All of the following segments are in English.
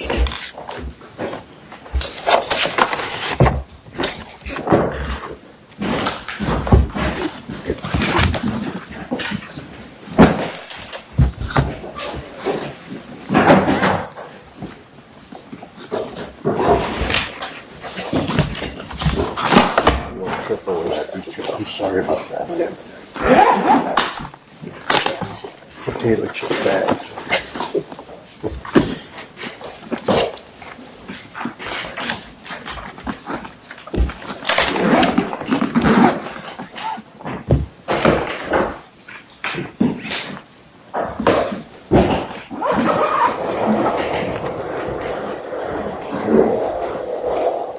I'm sorry about that. It's okay, it looks just fine. Mr.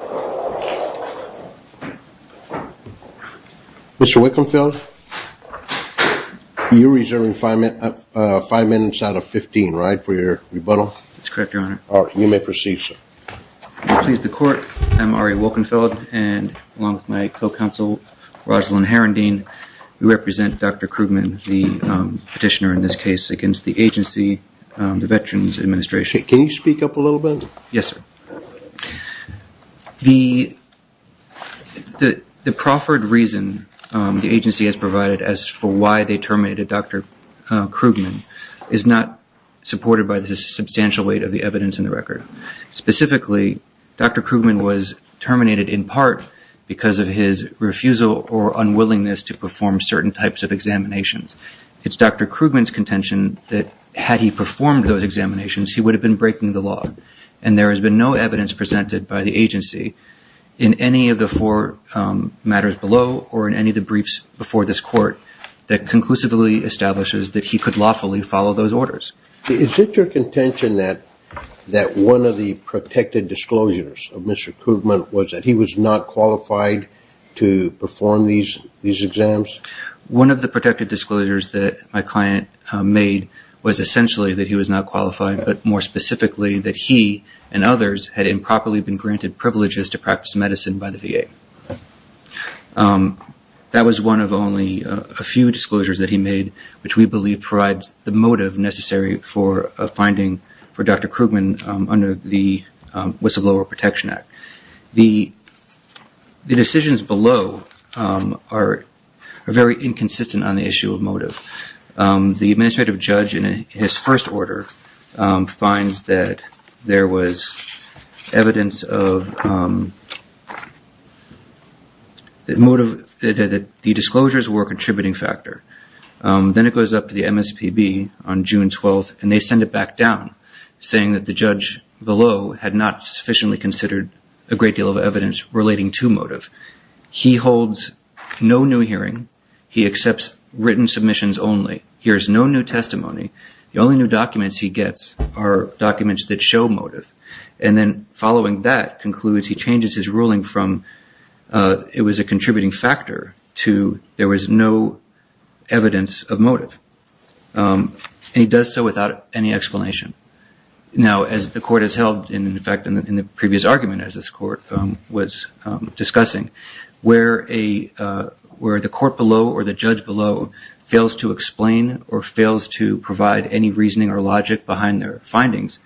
Krugman, the petitioner in this case against the agency, the Veterans Administration. Can you speak up a little bit? Yes, sir. The proffered reason the agency has provided as for why they terminated Dr. Krugman is not supported by the substantial weight of the evidence in the record. Specifically, Dr. Krugman was terminated in part because of his refusal or unwillingness to perform certain types of examinations. It's Dr. Krugman's contention that had he performed those examinations, he would have been breaking the law. And there has been no evidence presented by the agency in any of the four matters below or in any of the briefs before this court that conclusively establishes that he could lawfully follow those orders. Is it your contention that one of the protected disclosures of Mr. Krugman was that he was not qualified to perform these exams? One of the protected disclosures that my client made was essentially that he was not qualified, but more specifically that he and others had improperly been granted privileges to practice medicine by the VA. That was one of only a few disclosures that he made, which we believe provides the motive necessary for a finding for Dr. Krugman under the Whistleblower Protection Act. The decisions below are very inconsistent on the issue of motive. The administrative judge in his first order finds that there was evidence that the disclosures were a contributing factor. Then it goes up to the MSPB on June 12th, and they send it back down, saying that the judge below had not sufficiently considered a great deal of evidence relating to motive. He holds no new hearing. He accepts written submissions only. He hears no new testimony. The only new documents he gets are documents that show motive. Following that concludes he changes his ruling from it was a contributing factor to there was no evidence of motive. He does so without any explanation. Now, as the court has held, in fact, in the previous argument as this court was discussing, where the court below or the judge below fails to explain or fails to provide any reasoning or logic behind their findings,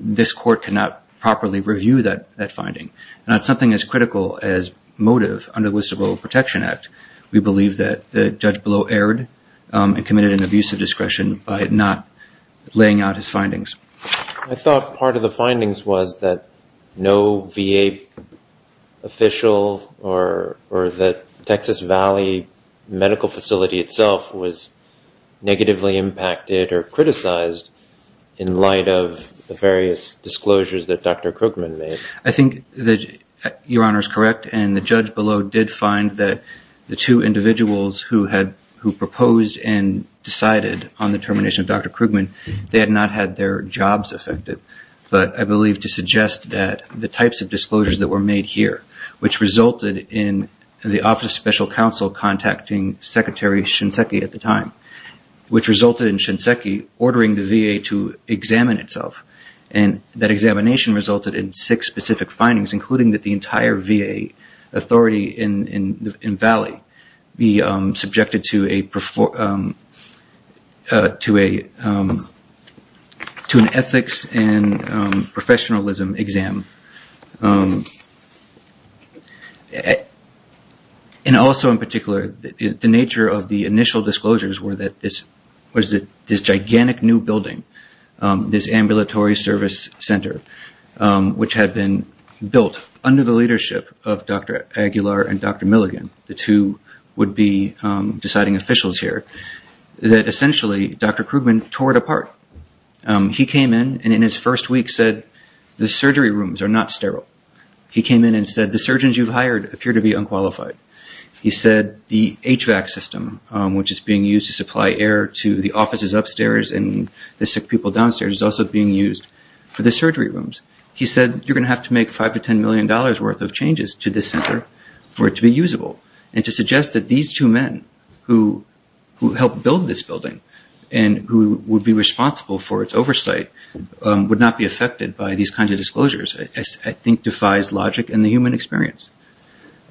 this court cannot properly review that finding. And that's something as critical as motive under the Whistleblower Protection Act. We believe that the judge below erred and committed an abuse of discretion by not laying out his findings. I thought part of the findings was that no VA official or that Texas Valley Medical Facility itself was negatively impacted or criticized in light of the various disclosures that Dr. Krugman made. I think that Your Honor is correct, and the judge below did find that the two individuals who proposed and decided on the termination of Dr. Krugman, they had not had their jobs affected. But I believe to suggest that the types of disclosures that were made here, which resulted in the Office of Special Counsel contacting Secretary Shinseki at the time, which resulted in Shinseki ordering the VA to examine itself, and that examination resulted in six specific findings, including that the entire VA authority in Valley be subjected to an ethics and professionalism exam. And also in particular, the nature of the initial disclosures was that this gigantic new building, this ambulatory service center, which had been built under the leadership of Dr. Aguilar and Dr. Milligan, the two would-be deciding officials here, that essentially Dr. Krugman tore it apart. He came in and in his first week said, the surgery rooms are not sterile. He came in and said, the surgeons you've hired appear to be unqualified. He said, the HVAC system, which is being used to supply air to the offices upstairs and the sick people downstairs, is also being used for the surgery rooms. He said, you're going to have to make $5 million to $10 million worth of changes to this center for it to be usable. And to suggest that these two men who helped build this building and who would be responsible for its oversight would not be affected by these kinds of disclosures, I think defies logic and the human experience.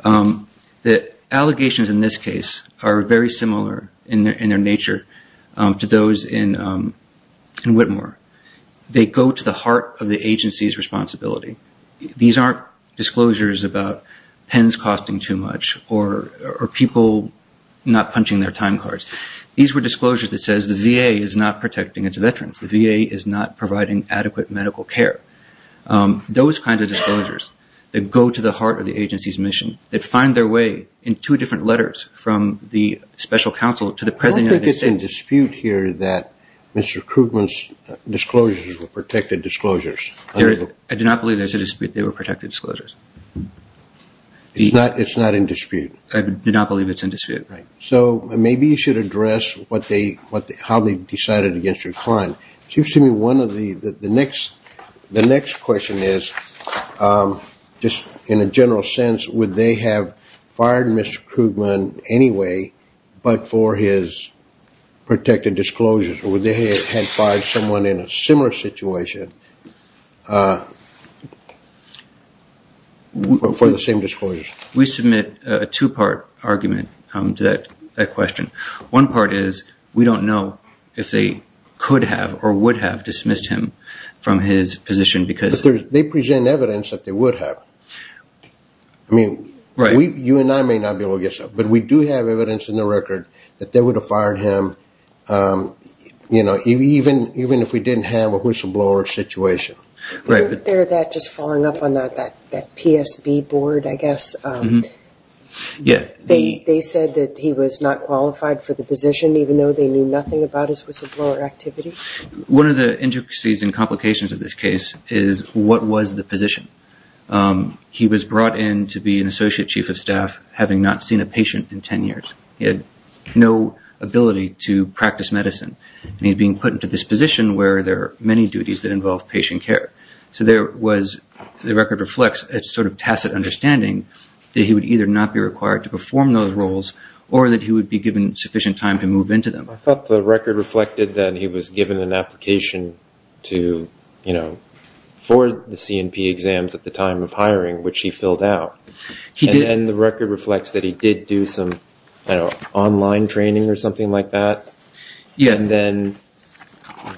The allegations in this case are very similar in their nature to those in Whitmore. They go to the heart of the agency's responsibility. These aren't disclosures about pens costing too much or people not punching their time cards. These were disclosures that says the VA is not protecting its veterans. The VA is not providing adequate medical care. Those kinds of disclosures that go to the heart of the agency's mission, that find their way in two different letters from the special counsel to the president of the state. I don't think it's in dispute here that Mr. Krugman's disclosures were protected disclosures. I do not believe there's a dispute they were protected disclosures. It's not in dispute? I do not believe it's in dispute. So maybe you should address how they decided against your client. Excuse me. The next question is, just in a general sense, would they have fired Mr. Krugman anyway, but for his protected disclosures, or would they have had fired someone in a similar situation for the same disclosures? We submit a two-part argument to that question. One part is we don't know if they could have or would have dismissed him from his position. They present evidence that they would have. You and I may not be able to guess, but we do have evidence in the record that they would have fired him, even if we didn't have a whistleblower situation. Isn't there that just following up on that PSB board, I guess? They said that he was not qualified for the position, even though they knew nothing about his whistleblower activity? One of the intricacies and complications of this case is what was the position. He was brought in to be an associate chief of staff, having not seen a patient in 10 years. He had no ability to practice medicine, and he was being put into this position where there are many duties that involve patient care. So the record reflects a sort of tacit understanding that he would either not be required to perform those roles or that he would be given sufficient time to move into them. I thought the record reflected that he was given an application for the C&P exams at the time of hiring, which he filled out. And the record reflects that he did do some online training or something like that? Yes. And then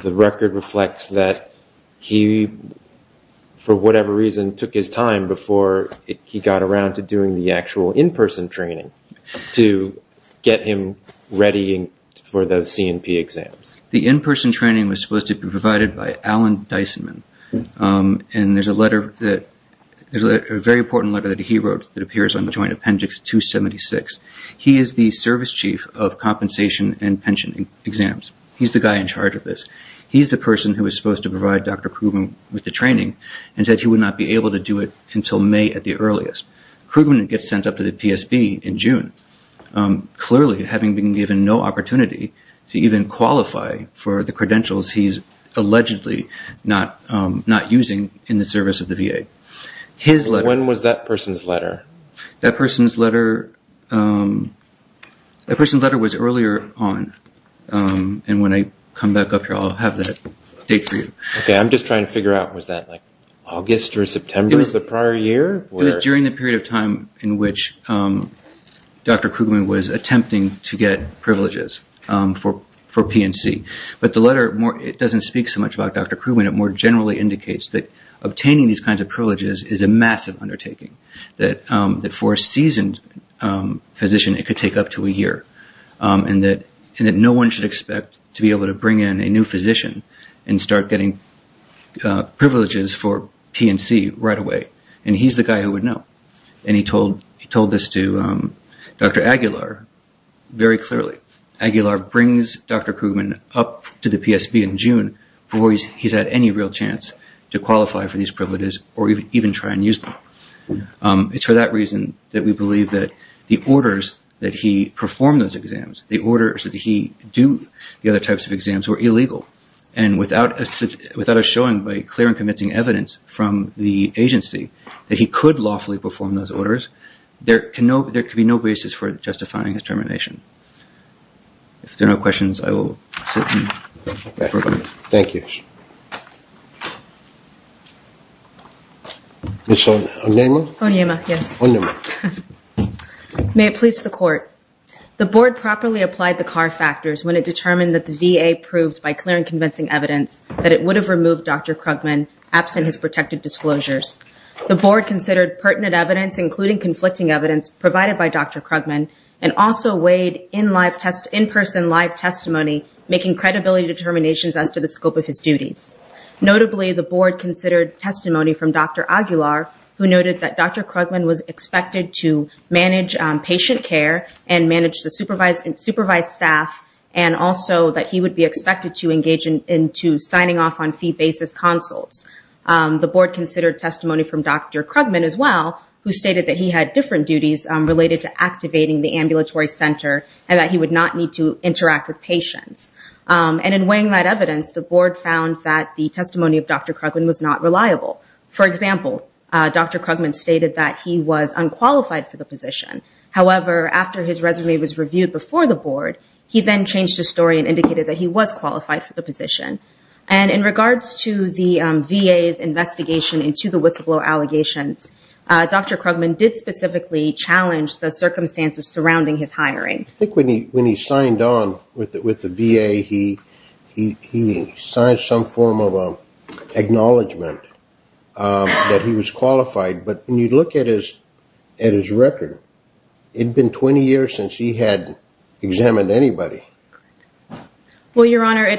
the record reflects that he, for whatever reason, took his time before he got around to doing the actual in-person training to get him ready for those C&P exams. The in-person training was supposed to be provided by Alan Dysonman, and there's a very important letter that he wrote that appears on the Joint Appendix 276. He is the service chief of compensation and pension exams. He's the guy in charge of this. He's the person who was supposed to provide Dr. Krugman with the training and said he would not be able to do it until May at the earliest. Krugman gets sent up to the PSB in June, clearly having been given no opportunity to even qualify for the credentials he's allegedly not using in the service of the VA. When was that person's letter? That person's letter was earlier on, and when I come back up here I'll have that date for you. Okay, I'm just trying to figure out, was that like August or September of the prior year? It was during the period of time in which Dr. Krugman was attempting to get privileges for P&C. But the letter doesn't speak so much about Dr. Krugman. It more generally indicates that obtaining these kinds of privileges is a massive undertaking, that for a seasoned physician it could take up to a year, and that no one should expect to be able to bring in a new physician and start getting privileges for P&C right away, and he's the guy who would know. He told this to Dr. Aguilar very clearly. Dr. Aguilar brings Dr. Krugman up to the PSB in June before he's had any real chance to qualify for these privileges or even try and use them. It's for that reason that we believe that the orders that he performed those exams, the orders that he did the other types of exams were illegal, and without a showing by clear and convincing evidence from the agency that he could lawfully perform those orders, there can be no basis for justifying his termination. If there are no questions, I will sit and go. Thank you. Ms. Onyema? Onyema, yes. Onyema. May it please the Court. The Board properly applied the CAR factors when it determined that the VA proved by clear and convincing evidence that it would have removed Dr. Krugman absent his protected disclosures. The Board considered pertinent evidence, including conflicting evidence provided by Dr. Krugman, and also weighed in-person live testimony, making credibility determinations as to the scope of his duties. Notably, the Board considered testimony from Dr. Aguilar, who noted that Dr. Krugman was expected to manage patient care and manage the supervised staff, and also that he would be expected to engage into signing off on fee basis consults. The Board considered testimony from Dr. Krugman as well, who stated that he had different duties related to activating the ambulatory center and that he would not need to interact with patients. And in weighing that evidence, the Board found that the testimony of Dr. Krugman was not reliable. For example, Dr. Krugman stated that he was unqualified for the position. However, after his resume was reviewed before the Board, he then changed his story and indicated that he was qualified for the position. And in regards to the VA's investigation into the whistleblower allegations, Dr. Krugman did specifically challenge the circumstances surrounding his hiring. I think when he signed on with the VA, he signed some form of acknowledgement that he was qualified. But when you look at his record, it had been 20 years since he had examined anybody. Well, Your Honor, he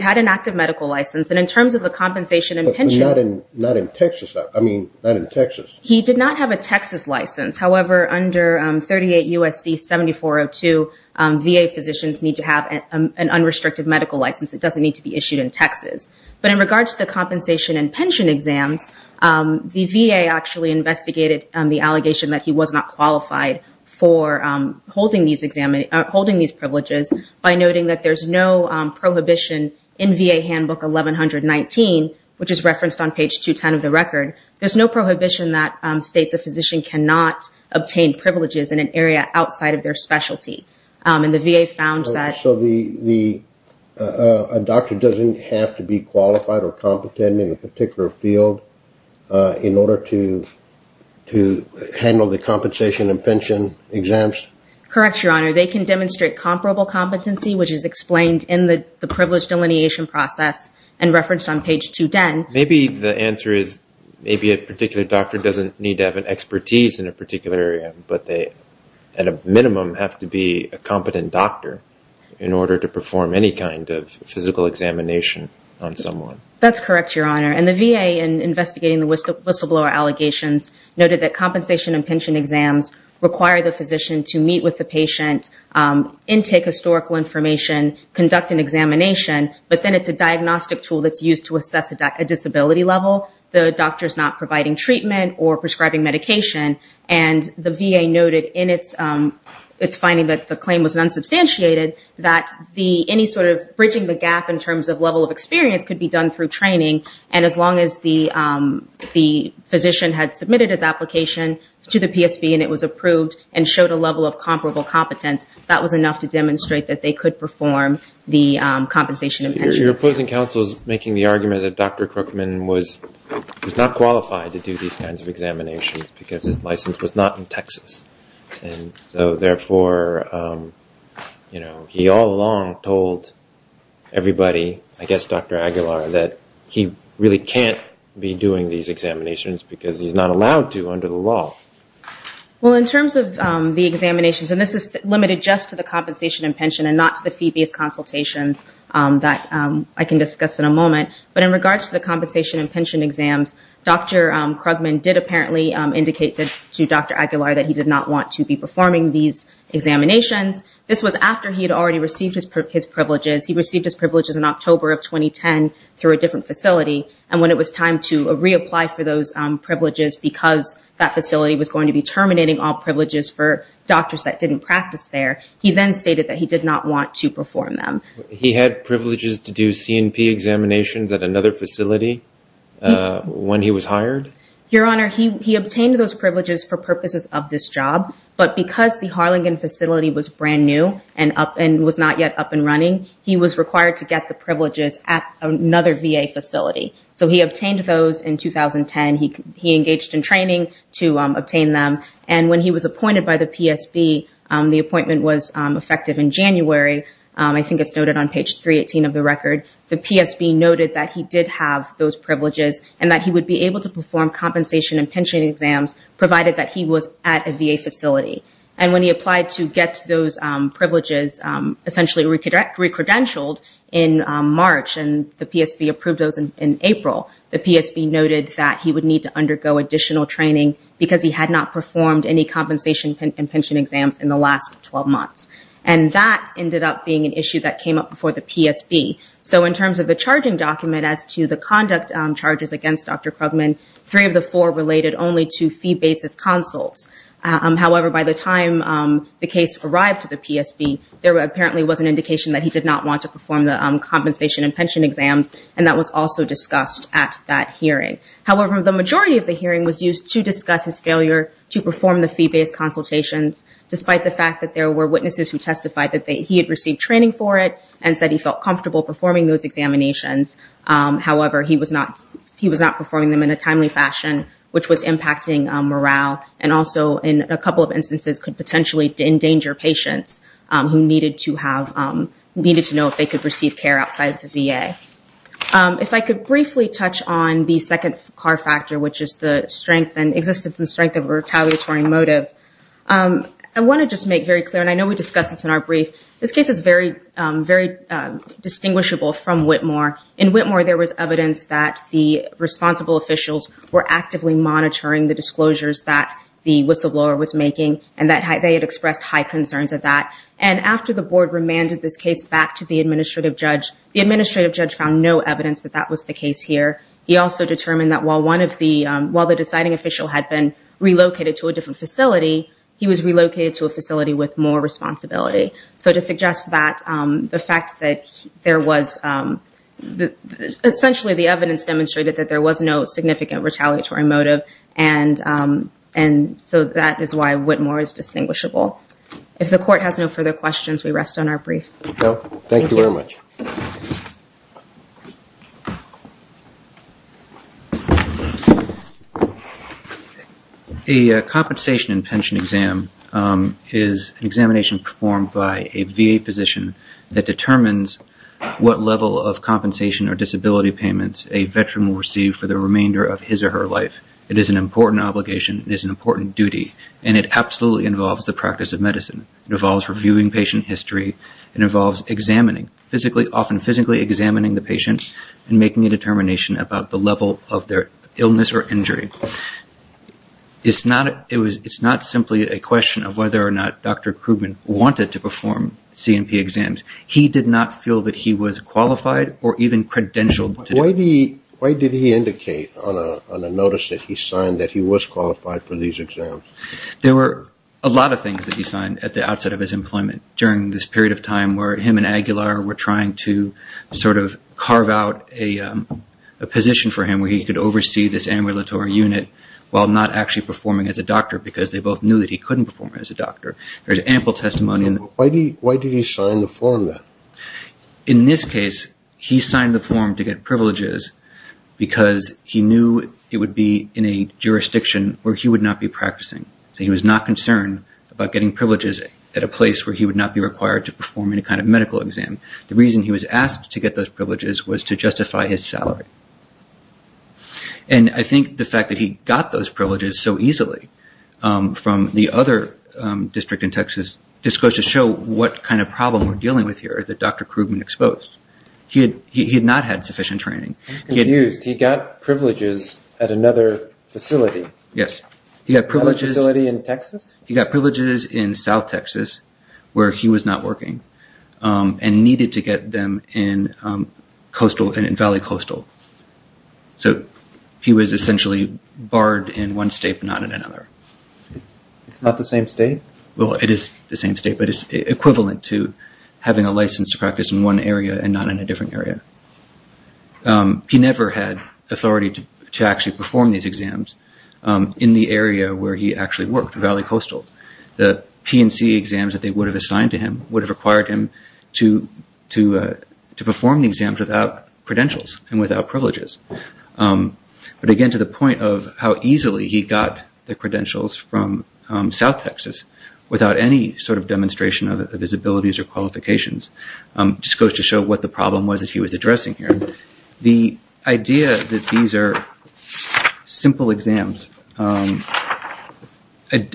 had an active medical license. And in terms of the compensation and pension. But not in Texas. I mean, not in Texas. He did not have a Texas license. However, under 38 U.S.C. 7402, VA physicians need to have an unrestricted medical license. It doesn't need to be issued in Texas. But in regards to the compensation and pension exams, the VA actually investigated the allegation that he was not qualified for holding these privileges by noting that there's no prohibition in VA Handbook 1119, which is referenced on page 210 of the record. There's no prohibition that states a physician cannot obtain privileges in an area outside of their specialty. And the VA found that. So a doctor doesn't have to be qualified or competent in a particular field in order to handle the compensation and pension exams? Correct, Your Honor. They can demonstrate comparable competency, which is explained in the privilege delineation process and referenced on page 210. Maybe the answer is maybe a particular doctor doesn't need to have an expertise in a particular area, but they, at a minimum, have to be a competent doctor in order to perform any kind of physical examination on someone. That's correct, Your Honor. And the VA, in investigating the whistleblower allegations, noted that compensation and pension exams require the physician to meet with the patient, intake historical information, conduct an examination, but then it's a diagnostic tool that's used to assess a disability level. The doctor's not providing treatment or prescribing medication. And the VA noted in its finding that the claim was unsubstantiated that any sort of bridging the gap in terms of level of experience could be done through training. And as long as the physician had submitted his application to the PSB and it was approved and showed a level of comparable competence, that was enough to demonstrate that they could perform the compensation and pension. So you're opposing counsel's making the argument that Dr. Crookman was not qualified to do these kinds of examinations because his license was not in Texas. And so, therefore, he all along told everybody, I guess Dr. Aguilar, that he really can't be doing these examinations because he's not allowed to under the law. Well, in terms of the examinations, and this is limited just to the compensation and pension and not to the fee-based consultations that I can discuss in a moment, but in regards to the compensation and pension exams, Dr. Crookman did apparently indicate to Dr. Aguilar that he did not want to be performing these examinations. This was after he had already received his privileges. He received his privileges in October of 2010 through a different facility. And when it was time to reapply for those privileges because that facility was going to be terminating all privileges for doctors that didn't practice there, he then stated that he did not want to perform them. He had privileges to do C&P examinations at another facility when he was hired? Your Honor, he obtained those privileges for purposes of this job. But because the Harlingen facility was brand new and was not yet up and running, he was required to get the privileges at another VA facility. So he obtained those in 2010. He engaged in training to obtain them. And when he was appointed by the PSB, the appointment was effective in January. I think it's noted on page 318 of the record. The PSB noted that he did have those privileges and that he would be able to perform compensation and pension exams provided that he was at a VA facility. And when he applied to get those privileges essentially recredentialed in March and the PSB approved those in April, the PSB noted that he would need to undergo additional training because he had not performed any compensation and pension exams in the last 12 months. And that ended up being an issue that came up before the PSB. So in terms of the charging document as to the conduct charges against Dr. Krugman, three of the four related only to fee-basis consults. However, by the time the case arrived to the PSB, there apparently was an indication that he did not want to perform the compensation and pension exams, and that was also discussed at that hearing. However, the majority of the hearing was used to discuss his failure to perform the fee-basis consultations, despite the fact that there were witnesses who testified that he had received training for it and said he felt comfortable performing those examinations. However, he was not performing them in a timely fashion, which was impacting morale, and also in a couple of instances could potentially endanger patients who needed to know if they could receive care outside of the VA. If I could briefly touch on the second car factor, which is the strength and existence and strength of a retaliatory motive. I want to just make very clear, and I know we discussed this in our brief, this case is very distinguishable from Whitmore. In Whitmore, there was evidence that the responsible officials were actively monitoring the disclosures that the whistleblower was making and that they had expressed high concerns of that. And after the board remanded this case back to the administrative judge, the administrative judge found no evidence that that was the case here. He also determined that while the deciding official had been relocated to a different facility, he was relocated to a facility with more responsibility. So to suggest that, the fact that there was essentially the evidence demonstrated that there was no significant retaliatory motive, and so that is why Whitmore is distinguishable. If the court has no further questions, we rest on our brief. Thank you very much. A compensation and pension exam is an examination performed by a VA physician that determines what level of compensation or disability payments a veteran will receive for the remainder of his or her life. It is an important obligation. It is an important duty, and it absolutely involves the practice of medicine. It involves reviewing patient history. It involves examining, often physically examining the patient and making a determination about the level of their illness or injury. It's not simply a question of whether or not Dr. Krugman wanted to perform C&P exams. He did not feel that he was qualified or even credentialed to do it. Why did he indicate on a notice that he signed that he was qualified for these exams? There were a lot of things that he signed at the outset of his employment during this period of time where him and Aguilar were trying to sort of carve out a position for him where he could oversee this ambulatory unit while not actually performing as a doctor because they both knew that he couldn't perform as a doctor. There was ample testimony. Why did he sign the form then? In this case, he signed the form to get privileges because he knew it would be in a jurisdiction where he would not be practicing. He was not concerned about getting privileges at a place where he would not be required to perform any kind of medical exam. The reason he was asked to get those privileges was to justify his salary. I think the fact that he got those privileges so easily from the other district in Texas just goes to show what kind of problem we're dealing with here that Dr. Krugman exposed. He had not had sufficient training. I'm confused. He got privileges at another facility. Yes. Another facility in Texas? He got privileges in South Texas where he was not working and needed to get them in Valley Coastal. So he was essentially barred in one state but not in another. It's not the same state? It is the same state but it's equivalent to having a license to practice in one area and not in a different area. He never had authority to actually perform these exams in the area where he actually worked, Valley Coastal. The P&C exams that they would have assigned to him would have required him to perform the exams without credentials and without privileges. But again to the point of how easily he got the credentials from South Texas without any sort of demonstration of his abilities or qualifications just goes to show what the problem was that he was addressing here. The idea that these are simple exams, I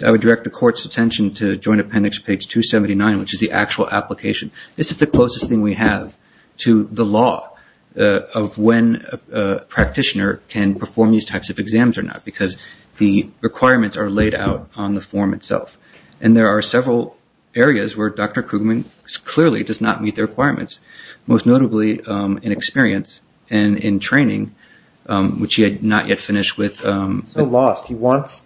would direct the court's attention to Joint Appendix page 279 which is the actual application. This is the closest thing we have to the law of when a practitioner can perform these types of exams or not because the requirements are laid out on the form itself. And there are several areas where Dr. Krugman clearly does not meet the requirements, most notably in experience and in training which he had not yet finished with. He's so lost. He wants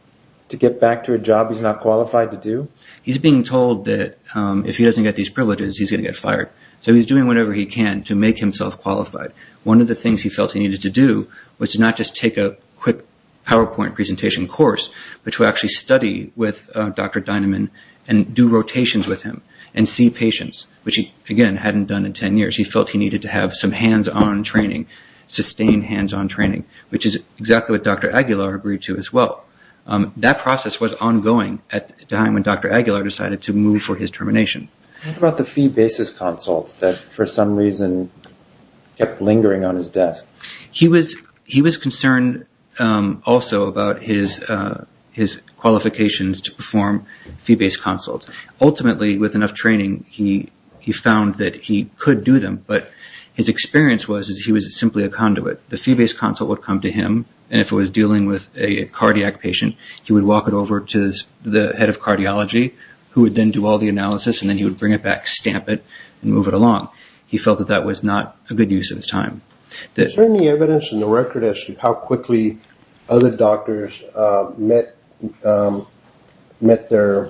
to get back to a job he's not qualified to do? He's being told that if he doesn't get these privileges he's going to get fired. So he's doing whatever he can to make himself qualified. One of the things he felt he needed to do was to not just take a quick PowerPoint presentation course but to actually study with Dr. Dineman and do rotations with him and see patients which he again hadn't done in 10 years. He felt he needed to have some hands-on training, sustained hands-on training which is exactly what Dr. Aguilar agreed to as well. That process was ongoing at the time when Dr. Aguilar decided to move for his termination. What about the fee basis consults that for some reason kept lingering on his desk? He was concerned also about his qualifications to perform fee-based consults. Ultimately with enough training he found that he could do them but his experience was that he was simply a conduit. The fee-based consult would come to him and if it was dealing with a cardiac patient he would walk it over to the head of cardiology who would then do all the analysis and then he would bring it back, stamp it, and move it along. He felt that that was not a good use of his time. Is there any evidence in the record as to how quickly other doctors met their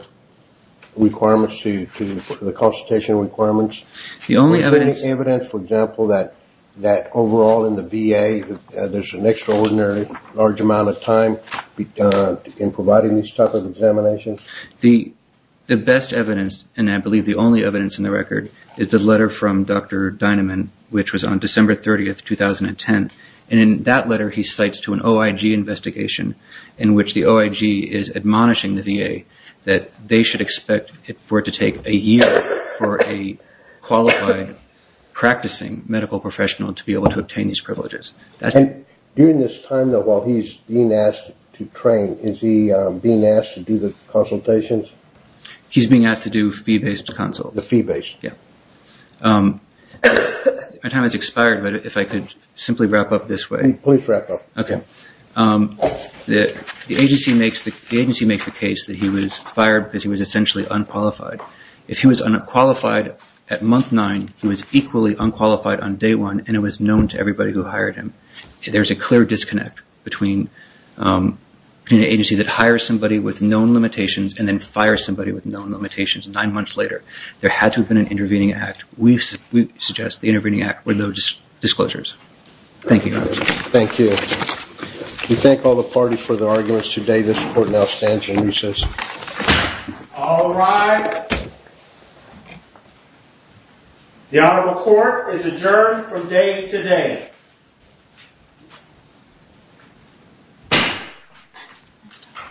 requirements to the consultation requirements? Is there any evidence, for example, that overall in the VA there's an extraordinary large amount of time in providing these types of examinations? The best evidence and I believe the only evidence in the record is the letter from Dr. Dineman which was on December 30, 2010. In that letter he cites to an OIG investigation in which the OIG is admonishing the VA that they should expect for it to take a year for a qualified practicing medical professional to be able to obtain these privileges. During this time though while he's being asked to train, is he being asked to do the consultations? He's being asked to do fee-based consults. The fee-based. My time has expired but if I could simply wrap up this way. Please wrap up. The agency makes the case that he was fired because he was essentially unqualified. If he was unqualified at month nine, he was equally unqualified on day one and it was known to everybody who hired him. There's a clear disconnect between an agency that hires somebody with known limitations and then fires somebody with known limitations nine months later. There had to have been an intervening act. We suggest the intervening act with no disclosures. Thank you, Your Honor. Thank you. We thank all the parties for their arguments today. This court now stands in recess. All rise. The Honorable Court is adjourned from day to day.